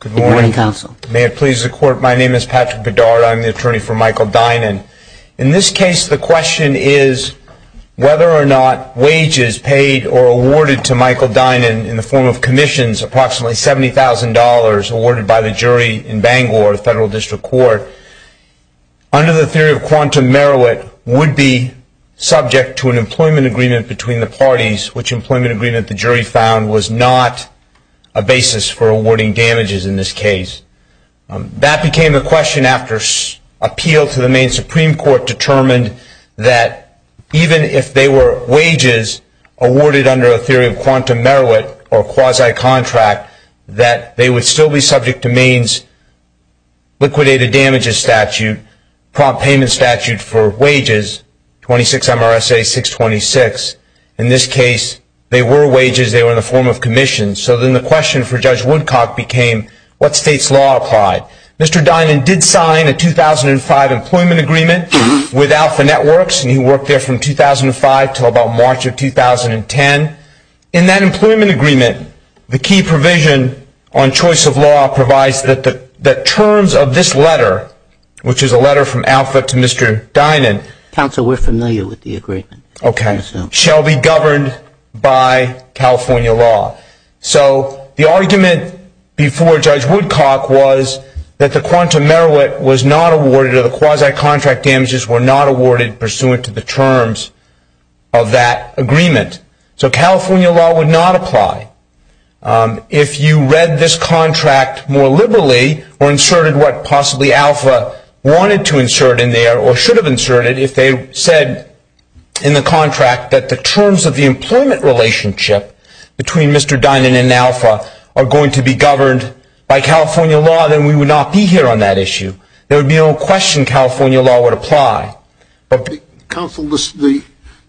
Good morning, counsel. May it please the court, my name is Patrick Bedard, I'm the attorney at law, and I'm going to be talking about the matter of whether or not wages paid or awarded to Michael Dynan in the form of commissions, approximately $70,000, awarded by the jury in Bangor, federal district court, under the theory of quantum merit, would be subject to an employment agreement between the parties, which employment agreement the jury found was not a basis for awarding damages in this case. That became a question after an appeal to the Maine Supreme Court determined that Dynan even if they were wages awarded under a theory of quantum merit or quasi-contract, that they would still be subject to Maine's liquidated damages statute, prompt payment statute for wages, 26 MRSA 626. In this case, they were wages, they were in the form of commissions. So then the question for Judge Woodcock became what state's law applied. Mr. Dynan did sign a 2005 employment agreement with Alpha Networks, and he worked there from 2005 to about March of 2010. In that employment agreement, the key provision on choice of law provides that the terms of this letter, which is a letter from Alpha to Mr. Dynan. Counsel, we're familiar with the agreement. Okay. Shall be governed by California law. So the argument before Judge Woodcock was that the quantum merit was not awarded or the quasi-contract damages were not awarded pursuant to the terms of the agreement. So California law would not apply. If you read this contract more liberally or inserted what possibly Alpha wanted to insert in there or should have inserted, if they said in the contract that the terms of the employment relationship between Mr. Dynan and Alpha are going to be governed by California law, then we would not be here on that issue. There would be no question California law would apply. Counsel, the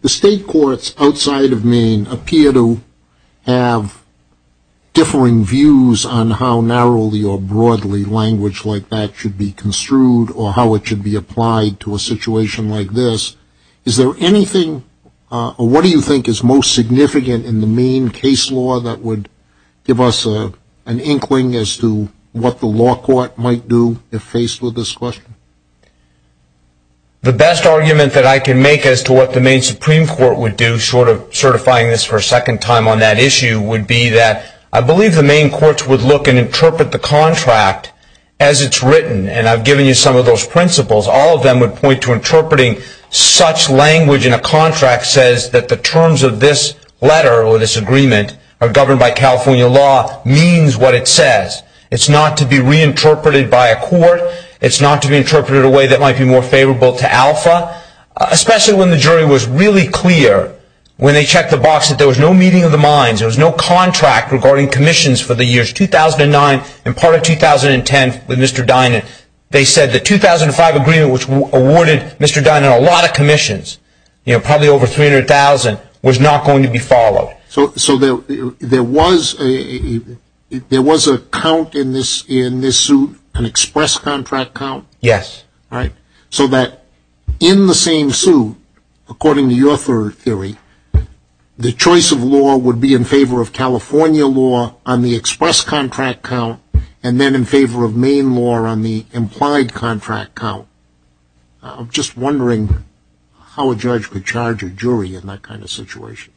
state courts outside of Maine appear to have differing views on how narrowly or broadly language like that should be construed or how it should be applied to a situation like this. Is there anything or what do you think is most significant in the Maine case law that would give us an inkling as to what the law court might do if faced with this question? The best argument that I can make as to what the Maine Supreme Court would do, short of certifying this for a second time on that issue, would be that I believe the Maine courts would look and interpret the contract as it's written. And I've given you some of those principles. All of them would point to interpreting such language in a contract says that the terms of this letter or this agreement are governed by California law means what it says. It's not to be reinterpreted by a court. It's not to be interpreted in a way that might be more favorable to Alpha, especially when the jury was really clear when they checked the box that there was no meeting of the minds. There was no contract regarding commissions for the years 2009 and part of 2010 with Mr. Dynan. They said the 2005 agreement, which awarded Mr. Dynan a lot of commissions, probably over 300,000, was not going to be followed. So there was a count in this suit, an express contract count? Yes. So that in the same suit, according to your theory, the choice of law would be in favor of California law on the express contract count and then in favor of Maine law on the implied contract count. I'm just wondering how a judge could charge a jury in that kind of situation.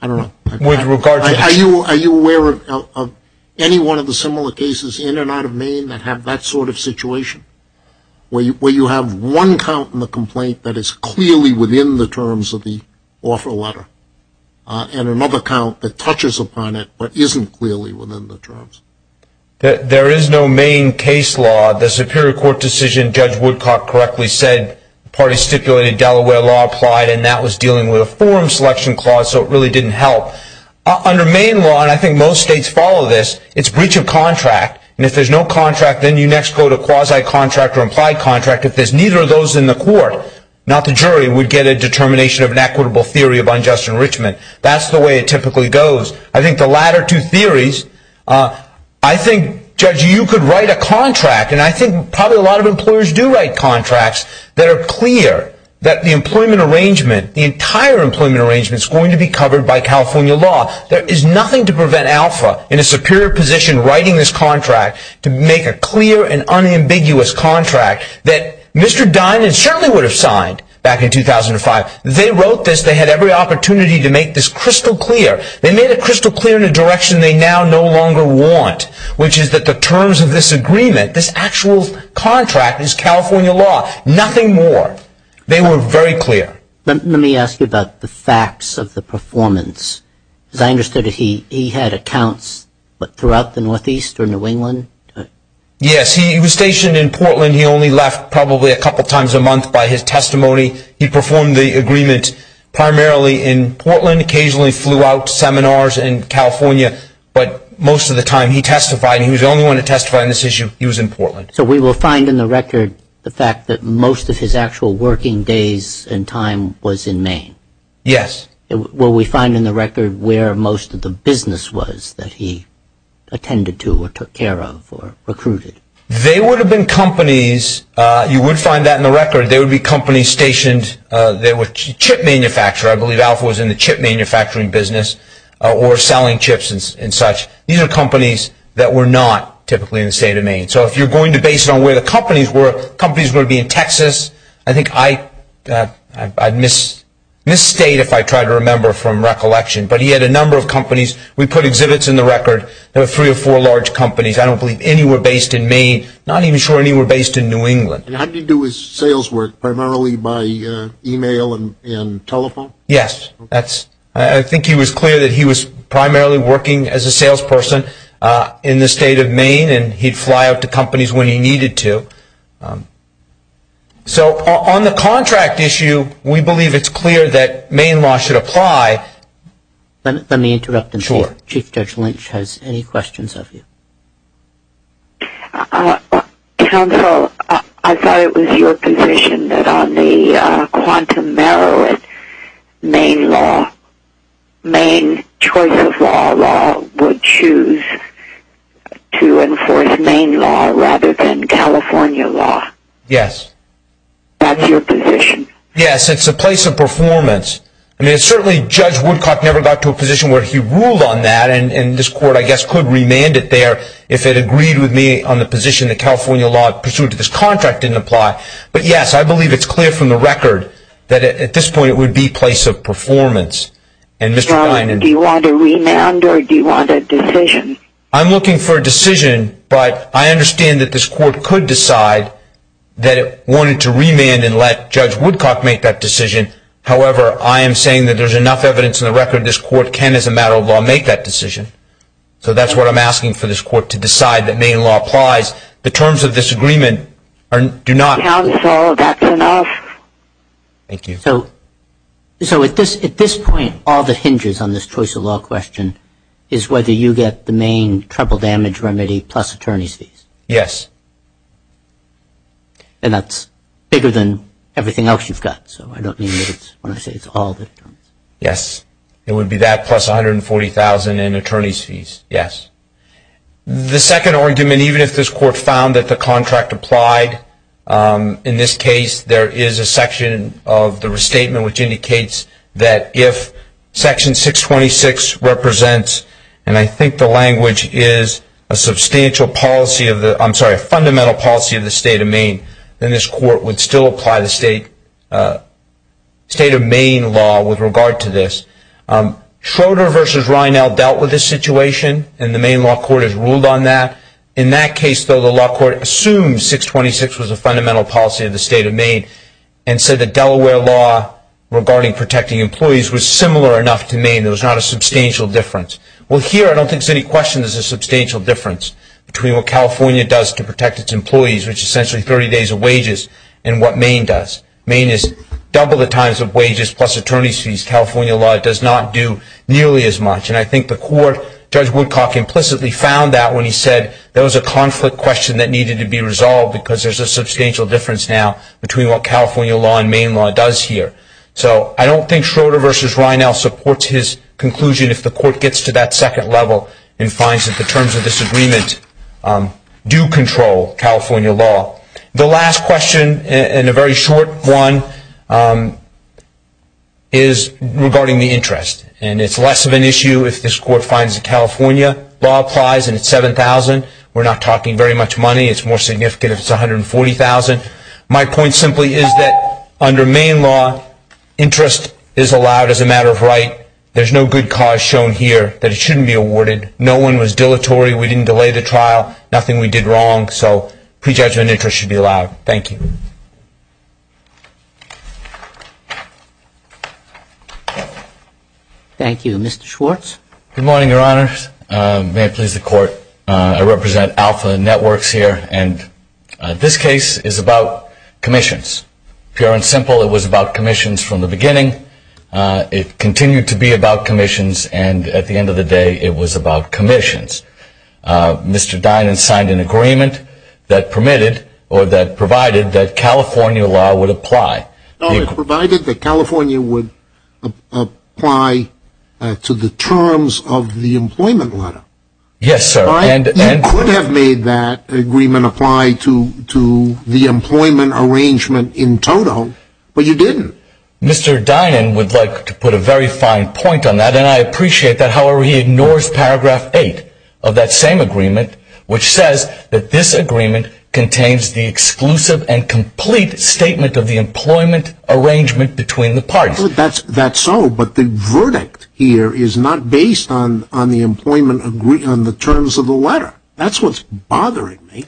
I don't know. Are you aware of any one of the similar cases in and out of Maine that have that sort of situation where you have one count in the complaint that is clearly within the terms of the offer letter and another count that touches upon it but isn't clearly within the terms? There is no Maine case law. The Superior Court decision, Judge Woodcock correctly said, the party stipulated Delaware law applied and that was dealing with a forum selection clause so it really didn't help. Under Maine law, and I think most states follow this, it's breach of contract. And if there's no contract, then you next go to quasi-contract or implied contract. If there's neither of those in the court, not the jury, we'd get a determination of an equitable theory of unjust enrichment. That's the way it typically goes. I think the latter two theories. I think, Judge, you could write a contract. And I think probably a lot of employers do write contracts that are clear that the employment arrangement, the entire employment arrangement is going to be covered by California law. There is nothing to prevent Alpha in a superior position writing this contract to make a clear and unambiguous contract that Mr. Dimon certainly would have signed back in 2005. They wrote this. They had every opportunity to make this crystal clear. They made it crystal clear in a direction they now no longer want, which is that the terms of this agreement, this actual contract is California law. Nothing more. They were very clear. Let me ask you about the facts of the performance. As I understood it, he had accounts throughout the Northeast or New England? Yes, he was stationed in Portland. He only left probably a couple times a month by his testimony. He performed the agreement primarily in Portland, occasionally flew out to seminars in California, but most of the time he testified. He was the only one to testify on this issue. He was in Portland. So we will find in the record the fact that most of his actual working days and time was in Maine? Yes. Will we find in the record where most of the business was that he attended to or took care of or recruited? You would find that in the record. There would be companies stationed. They were chip manufacturers. I believe Alpha was in the chip manufacturing business or selling chips and such. These are companies that were not typically in the state of Maine. So if you're going to base it on where the companies were, companies would be in Texas. I think I'd misstate if I tried to remember from recollection, but he had a number of companies. We put exhibits in the record. There were three or four large companies. I don't believe any were based in Maine. Not even sure any were based in New England. How did he do his sales work, primarily by e-mail and telephone? Yes. I think he was clear that he was primarily working as a salesperson in the state of Maine, and he'd fly out to companies when he needed to. So on the contract issue, we believe it's clear that Maine law should apply. Let me interrupt and see if Chief Judge Lynch has any questions of you. Counsel, I thought it was your position that on the Quantum Merrill in Maine law, Maine choice of law would choose to enforce Maine law rather than California law. Yes. That's your position. Yes, it's a place of performance. Certainly Judge Woodcock never got to a position where he ruled on that, and this Court, I guess, could remand it there if it agreed with me on the position that California law, pursuant to this contract, didn't apply. But, yes, I believe it's clear from the record that at this point it would be a place of performance. Do you want to remand or do you want a decision? I'm looking for a decision, but I understand that this Court could decide that it wanted to remand and let Judge Woodcock make that decision. However, I am saying that there's enough evidence in the record this Court can, as a matter of law, make that decision. So that's what I'm asking for this Court to decide that Maine law applies. The terms of this agreement do not. Counsel, that's enough. Thank you. So at this point, all that hinges on this choice of law question is whether you get the Maine trouble damage remedy plus attorney's fees. Yes. And that's bigger than everything else you've got, so I don't mean when I say it's all the terms. Yes. It would be that plus $140,000 in attorney's fees. Yes. The second argument, even if this Court found that the contract applied, in this case, there is a section of the restatement which indicates that if Section 626 represents, and I think the language is a fundamental policy of the State of Maine, then this Court would still apply the State of Maine law with regard to this. Schroeder v. Rinell dealt with this situation, and the Maine law court has ruled on that. In that case, though, the law court assumed 626 was a fundamental policy of the State of Maine and said the Delaware law regarding protecting employees was similar enough to Maine. There was not a substantial difference. Well, here, I don't think there's any question there's a substantial difference between what California does to protect its employees, which is essentially 30 days of wages, and what Maine does. Maine is double the times of wages plus attorney's fees. California law does not do nearly as much. And I think the Court, Judge Woodcock implicitly found that when he said there was a conflict question that needed to be resolved because there's a substantial difference now between what California law and Maine law does here. So I don't think Schroeder v. Rinell supports his conclusion if the Court gets to that second level and finds that the terms of this agreement do control California law. The last question, and a very short one, is regarding the interest. And it's less of an issue if this Court finds that California law applies and it's $7,000. We're not talking very much money. It's more significant if it's $140,000. My point simply is that under Maine law, interest is allowed as a matter of right. There's no good cause shown here that it shouldn't be awarded. No one was dilatory. We didn't delay the trial. Nothing we did wrong. So prejudgment interest should be allowed. Thank you. Thank you. Mr. Schwartz. Good morning, Your Honor. May it please the Court. I represent Alpha Networks here. And this case is about commissions. Pure and simple, it was about commissions from the beginning. It continued to be about commissions, and at the end of the day, it was about commissions. Mr. Dinan signed an agreement that permitted or that provided that California law would apply. It provided that California would apply to the terms of the employment letter. Yes, sir. You could have made that agreement apply to the employment arrangement in total, but you didn't. Mr. Dinan would like to put a very fine point on that, and I appreciate that. However, he ignores paragraph 8 of that same agreement, which says that this agreement contains the exclusive and complete statement of the employment arrangement between the parties. That's so, but the verdict here is not based on the employment agreement, on the terms of the letter. That's what's bothering me.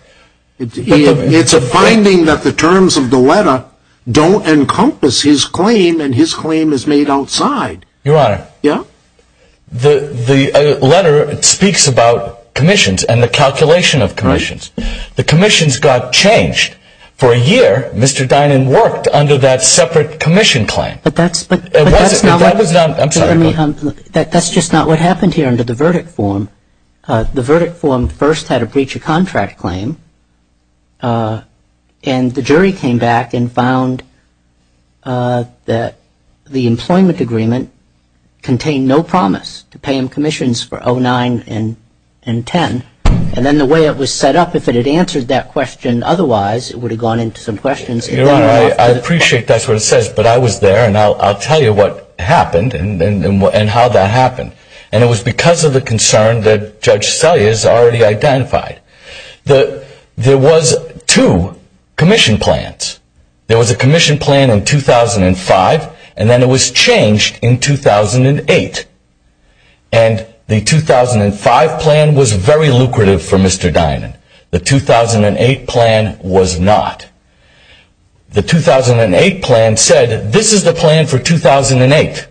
It's a finding that the terms of the letter don't encompass his claim, and his claim is made outside. Your Honor. Yeah? The letter speaks about commissions and the calculation of commissions. The commissions got changed. For a year, Mr. Dinan worked under that separate commission claim. But that's not what happened here under the verdict form. The verdict form first had a breach of contract claim, and the jury came back and found that the employment agreement contained no promise to pay him commissions for 09 and 10, and then the way it was set up, if it had answered that question otherwise, it would have gone into some questions. Your Honor, I appreciate that's what it says, but I was there, and I'll tell you what happened and how that happened. And it was because of the concern that Judge Selye has already identified. There was two commission plans. There was a commission plan in 2005, and then it was changed in 2008. And the 2005 plan was very lucrative for Mr. Dinan. The 2008 plan was not. The 2008 plan said, this is the plan for 2008.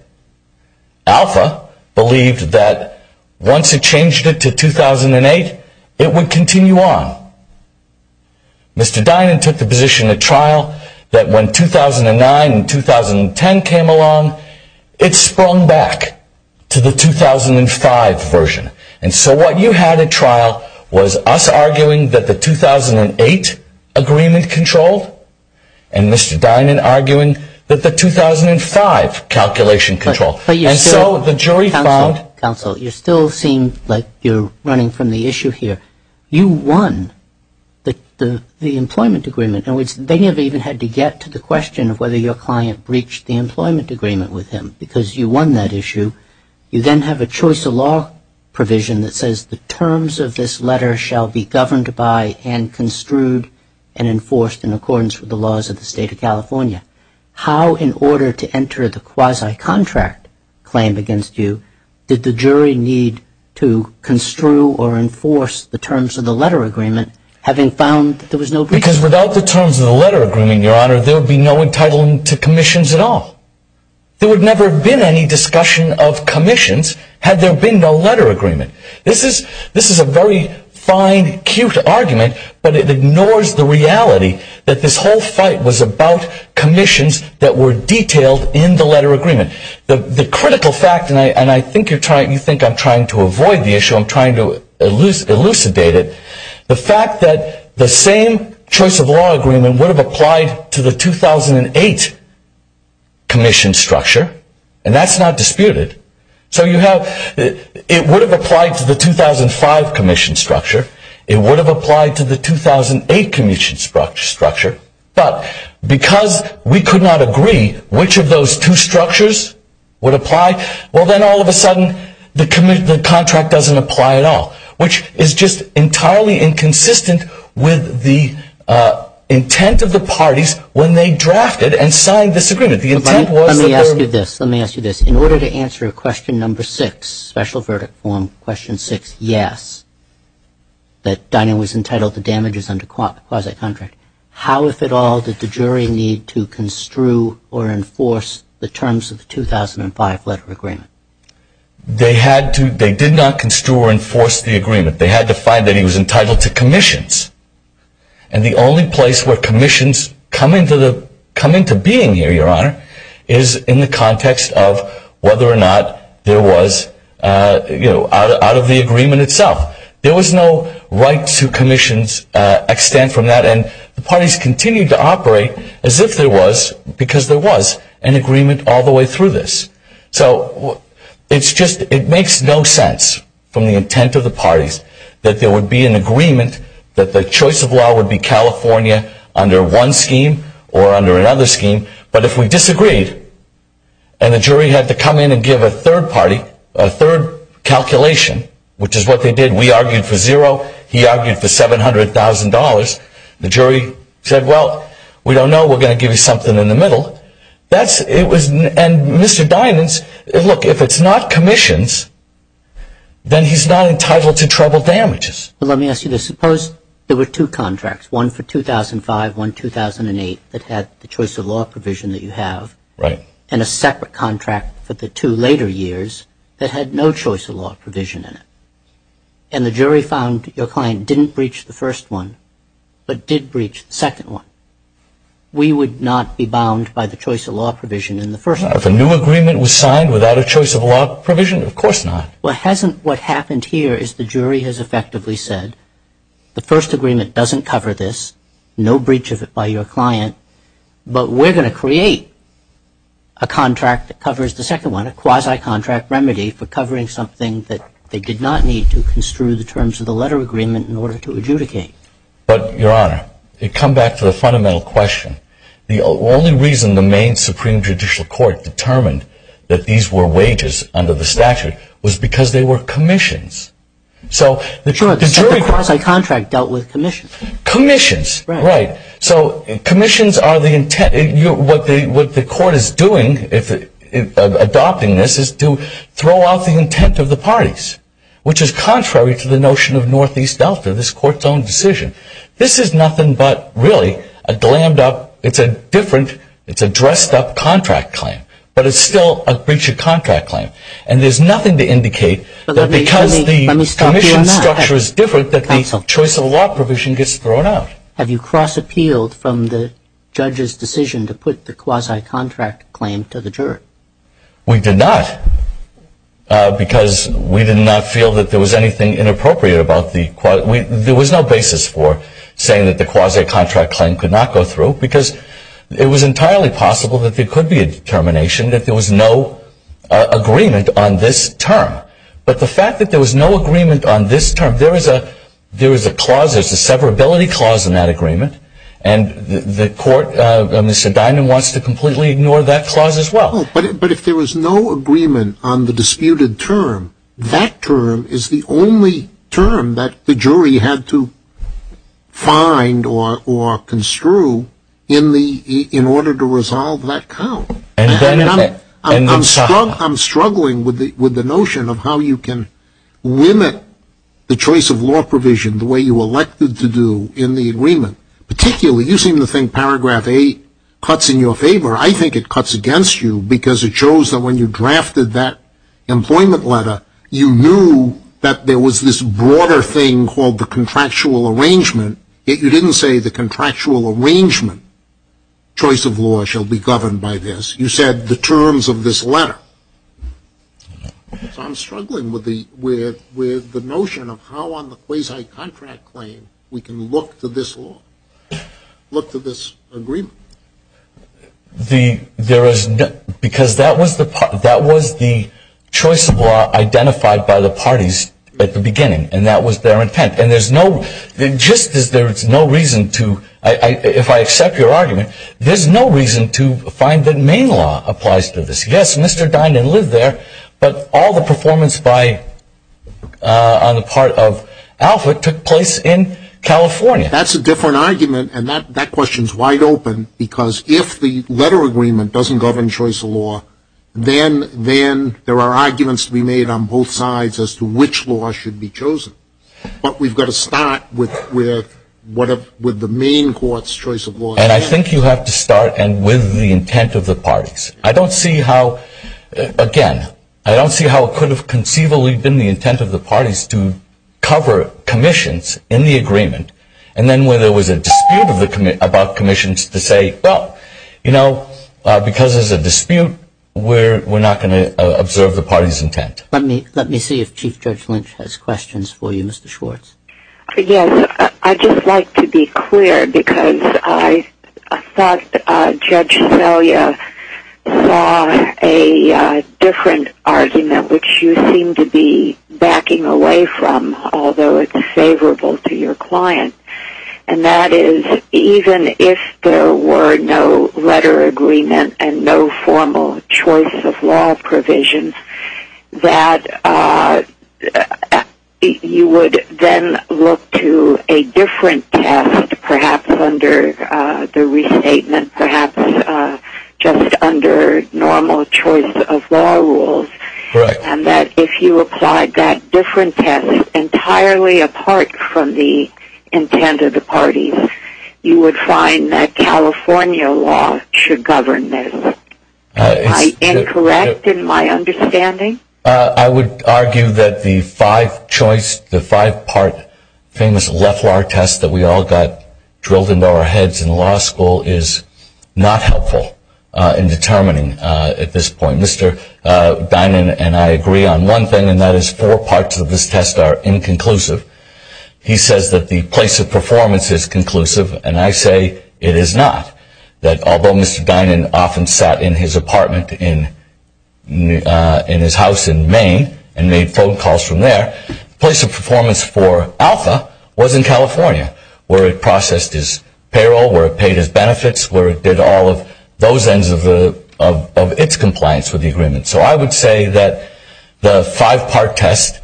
Alpha believed that once it changed it to 2008, it would continue on. Mr. Dinan took the position at trial that when 2009 and 2010 came along, it sprung back to the 2005 version. And so what you had at trial was us arguing that the 2008 agreement controlled, and Mr. Dinan arguing that the 2005 calculation controlled. Counsel, you still seem like you're running from the issue here. You won the employment agreement. In other words, they never even had to get to the question of whether your client breached the employment agreement with him, because you won that issue. You then have a choice of law provision that says the terms of this letter shall be governed by and construed and enforced in accordance with the laws of the state of California. How, in order to enter the quasi-contract claim against you, did the jury need to construe or enforce the terms of the letter agreement, having found that there was no breach? Because without the terms of the letter agreement, Your Honor, there would be no entitlement to commissions at all. There would never have been any discussion of commissions had there been no letter agreement. This is a very fine, cute argument, but it ignores the reality that this whole fight was about commissions that were detailed in the letter agreement. The critical fact, and I think you think I'm trying to avoid the issue, I'm trying to elucidate it, the fact that the same choice of law agreement would have applied to the 2008 commission structure, and that's not disputed, so it would have applied to the 2005 commission structure, it would have applied to the 2008 commission structure, but because we could not agree which of those two structures would apply, well then all of a sudden the contract doesn't apply at all. Which is just entirely inconsistent with the intent of the parties when they drafted and signed this agreement. Let me ask you this. In order to answer question number six, special verdict form question six, yes, that Dinah was entitled to damages under quasi-contract, how, if at all, did the jury need to construe or enforce the terms of the 2005 letter agreement? They did not construe or enforce the agreement. They had to find that he was entitled to commissions, and the only place where commissions come into being here, Your Honor, is in the context of whether or not there was, you know, out of the agreement itself. There was no right to commissions extant from that, and the parties continued to operate as if there was, because there was, an agreement all the way through this. So, it's just, it makes no sense from the intent of the parties that there would be an agreement, that the choice of law would be California under one scheme or under another scheme, but if we disagreed, and the jury had to come in and give a third party, a third calculation, which is what they did, we argued for zero, he argued for $700,000, the jury said, well, we don't know, we're going to give you something in the middle. That's, it was, and Mr. Dinan's, look, if it's not commissions, then he's not entitled to treble damages. Well, let me ask you this. Suppose there were two contracts, one for 2005, one 2008, that had the choice of law provision that you have. Right. And a separate contract for the two later years that had no choice of law provision in it, and the jury found your client didn't breach the first one, but did breach the second one. We would not be bound by the choice of law provision in the first one. Now, if a new agreement was signed without a choice of law provision, of course not. Well, hasn't what happened here is the jury has effectively said, the first agreement doesn't cover this, no breach of it by your client, but we're going to create a contract that covers the second one, a quasi-contract remedy for covering something that they did not need to construe the terms of the letter agreement in order to adjudicate. But, Your Honor, to come back to the fundamental question, the only reason the Maine Supreme Judicial Court determined that these were wages under the statute was because they were commissions. So the jury- The quasi-contract dealt with commissions. Commissions. Right. So commissions are the intent. What the court is doing, adopting this, is to throw out the intent of the parties, which is contrary to the notion of Northeast Delta, this Court's own decision. This is nothing but, really, a glammed-up, it's a different, it's a dressed-up contract claim, but it's still a breach of contract claim. And there's nothing to indicate that because the commission structure is different, that the choice of law provision gets thrown out. Have you cross-appealed from the judge's decision to put the quasi-contract claim to the juror? We did not. Because we did not feel that there was anything inappropriate about the- there was no basis for saying that the quasi-contract claim could not go through because it was entirely possible that there could be a determination that there was no agreement on this term. But the fact that there was no agreement on this term, there is a clause, there's a severability clause in that agreement, and the court, Mr. Dynan, wants to completely ignore that clause as well. But if there was no agreement on the disputed term, that term is the only term that the jury had to find or construe in order to resolve that count. I'm struggling with the notion of how you can limit the choice of law provision the way you elected to do in the agreement. Particularly, you seem to think paragraph 8 cuts in your favor. I think it cuts against you because it shows that when you drafted that employment letter, you knew that there was this broader thing called the contractual arrangement, yet you didn't say the contractual arrangement choice of law shall be governed by this. You said the terms of this letter. So I'm struggling with the notion of how on the quasi-contract claim we can look to this law, look to this agreement. Because that was the choice of law identified by the parties at the beginning, and that was their intent. And just as there is no reason to, if I accept your argument, there's no reason to find that Maine law applies to this. Yes, Mr. Dynan lived there, but all the performance on the part of Alfred took place in California. That's a different argument, and that question is wide open, because if the letter agreement doesn't govern choice of law, then there are arguments to be made on both sides as to which law should be chosen. But we've got to start with the Maine court's choice of law. And I think you have to start with the intent of the parties. I don't see how, again, I don't see how it could have conceivably been the intent of the parties to cover commissions in the agreement, and then where there was a dispute about commissions to say, well, you know, because there's a dispute, we're not going to observe the party's intent. Let me see if Chief Judge Lynch has questions for you, Mr. Schwartz. Yes, I'd just like to be clear, because I thought Judge Szelia saw a different argument, which you seem to be backing away from, although it's favorable to your client. And that is, even if there were no letter agreement and no formal choice of law provision, that you would then look to a different test, perhaps under the restatement, perhaps just under normal choice of law rules, and that if you applied that different test entirely apart from the intent of the parties, you would find that California law should govern this. Am I incorrect in my understanding? I would argue that the five-choice, the five-part famous Leflar test that we all got drilled into our heads in law school is not helpful in determining at this point. Mr. Dinan and I agree on one thing, and that is four parts of this test are inconclusive. He says that the place of performance is conclusive, and I say it is not. Although Mr. Dinan often sat in his apartment in his house in Maine and made phone calls from there, the place of performance for Alpha was in California, where it processed his payroll, where it paid his benefits, where it did all of those ends of its compliance with the agreement. So I would say that the five-part test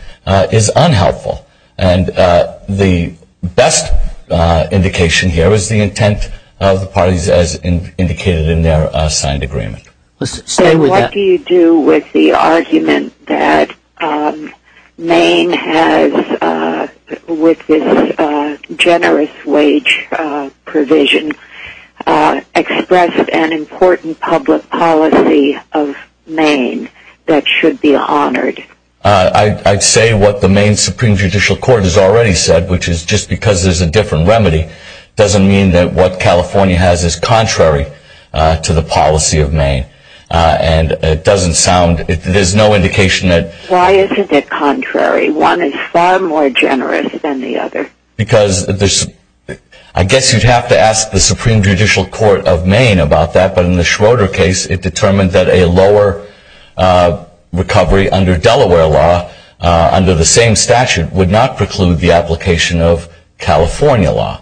is unhelpful, and the best indication here is the intent of the parties as indicated in their signed agreement. So what do you do with the argument that Maine has, with its generous wage provision, expressed an important public policy of Maine that should be honored? I'd say what the Maine Supreme Judicial Court has already said, which is just because there's a different remedy doesn't mean that what California has is contrary to the policy of Maine. And it doesn't sound, there's no indication that... Why isn't it contrary? One is far more generous than the other. Because, I guess you'd have to ask the Supreme Judicial Court of Maine about that, but in the Schroeder case, it determined that a lower recovery under Delaware law, under the same statute, would not preclude the application of California law.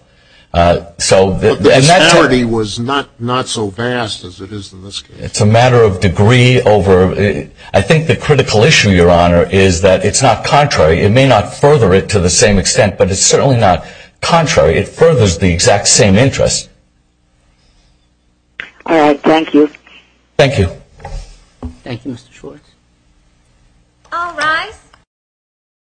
But the disparity was not so vast as it is in this case. It's a matter of degree over... I think the critical issue, Your Honor, is that it's not contrary. It may not further it to the same extent, but it's certainly not contrary. It furthers the exact same interest. All right, thank you. Thank you. Thank you, Mr. Schwartz. All rise.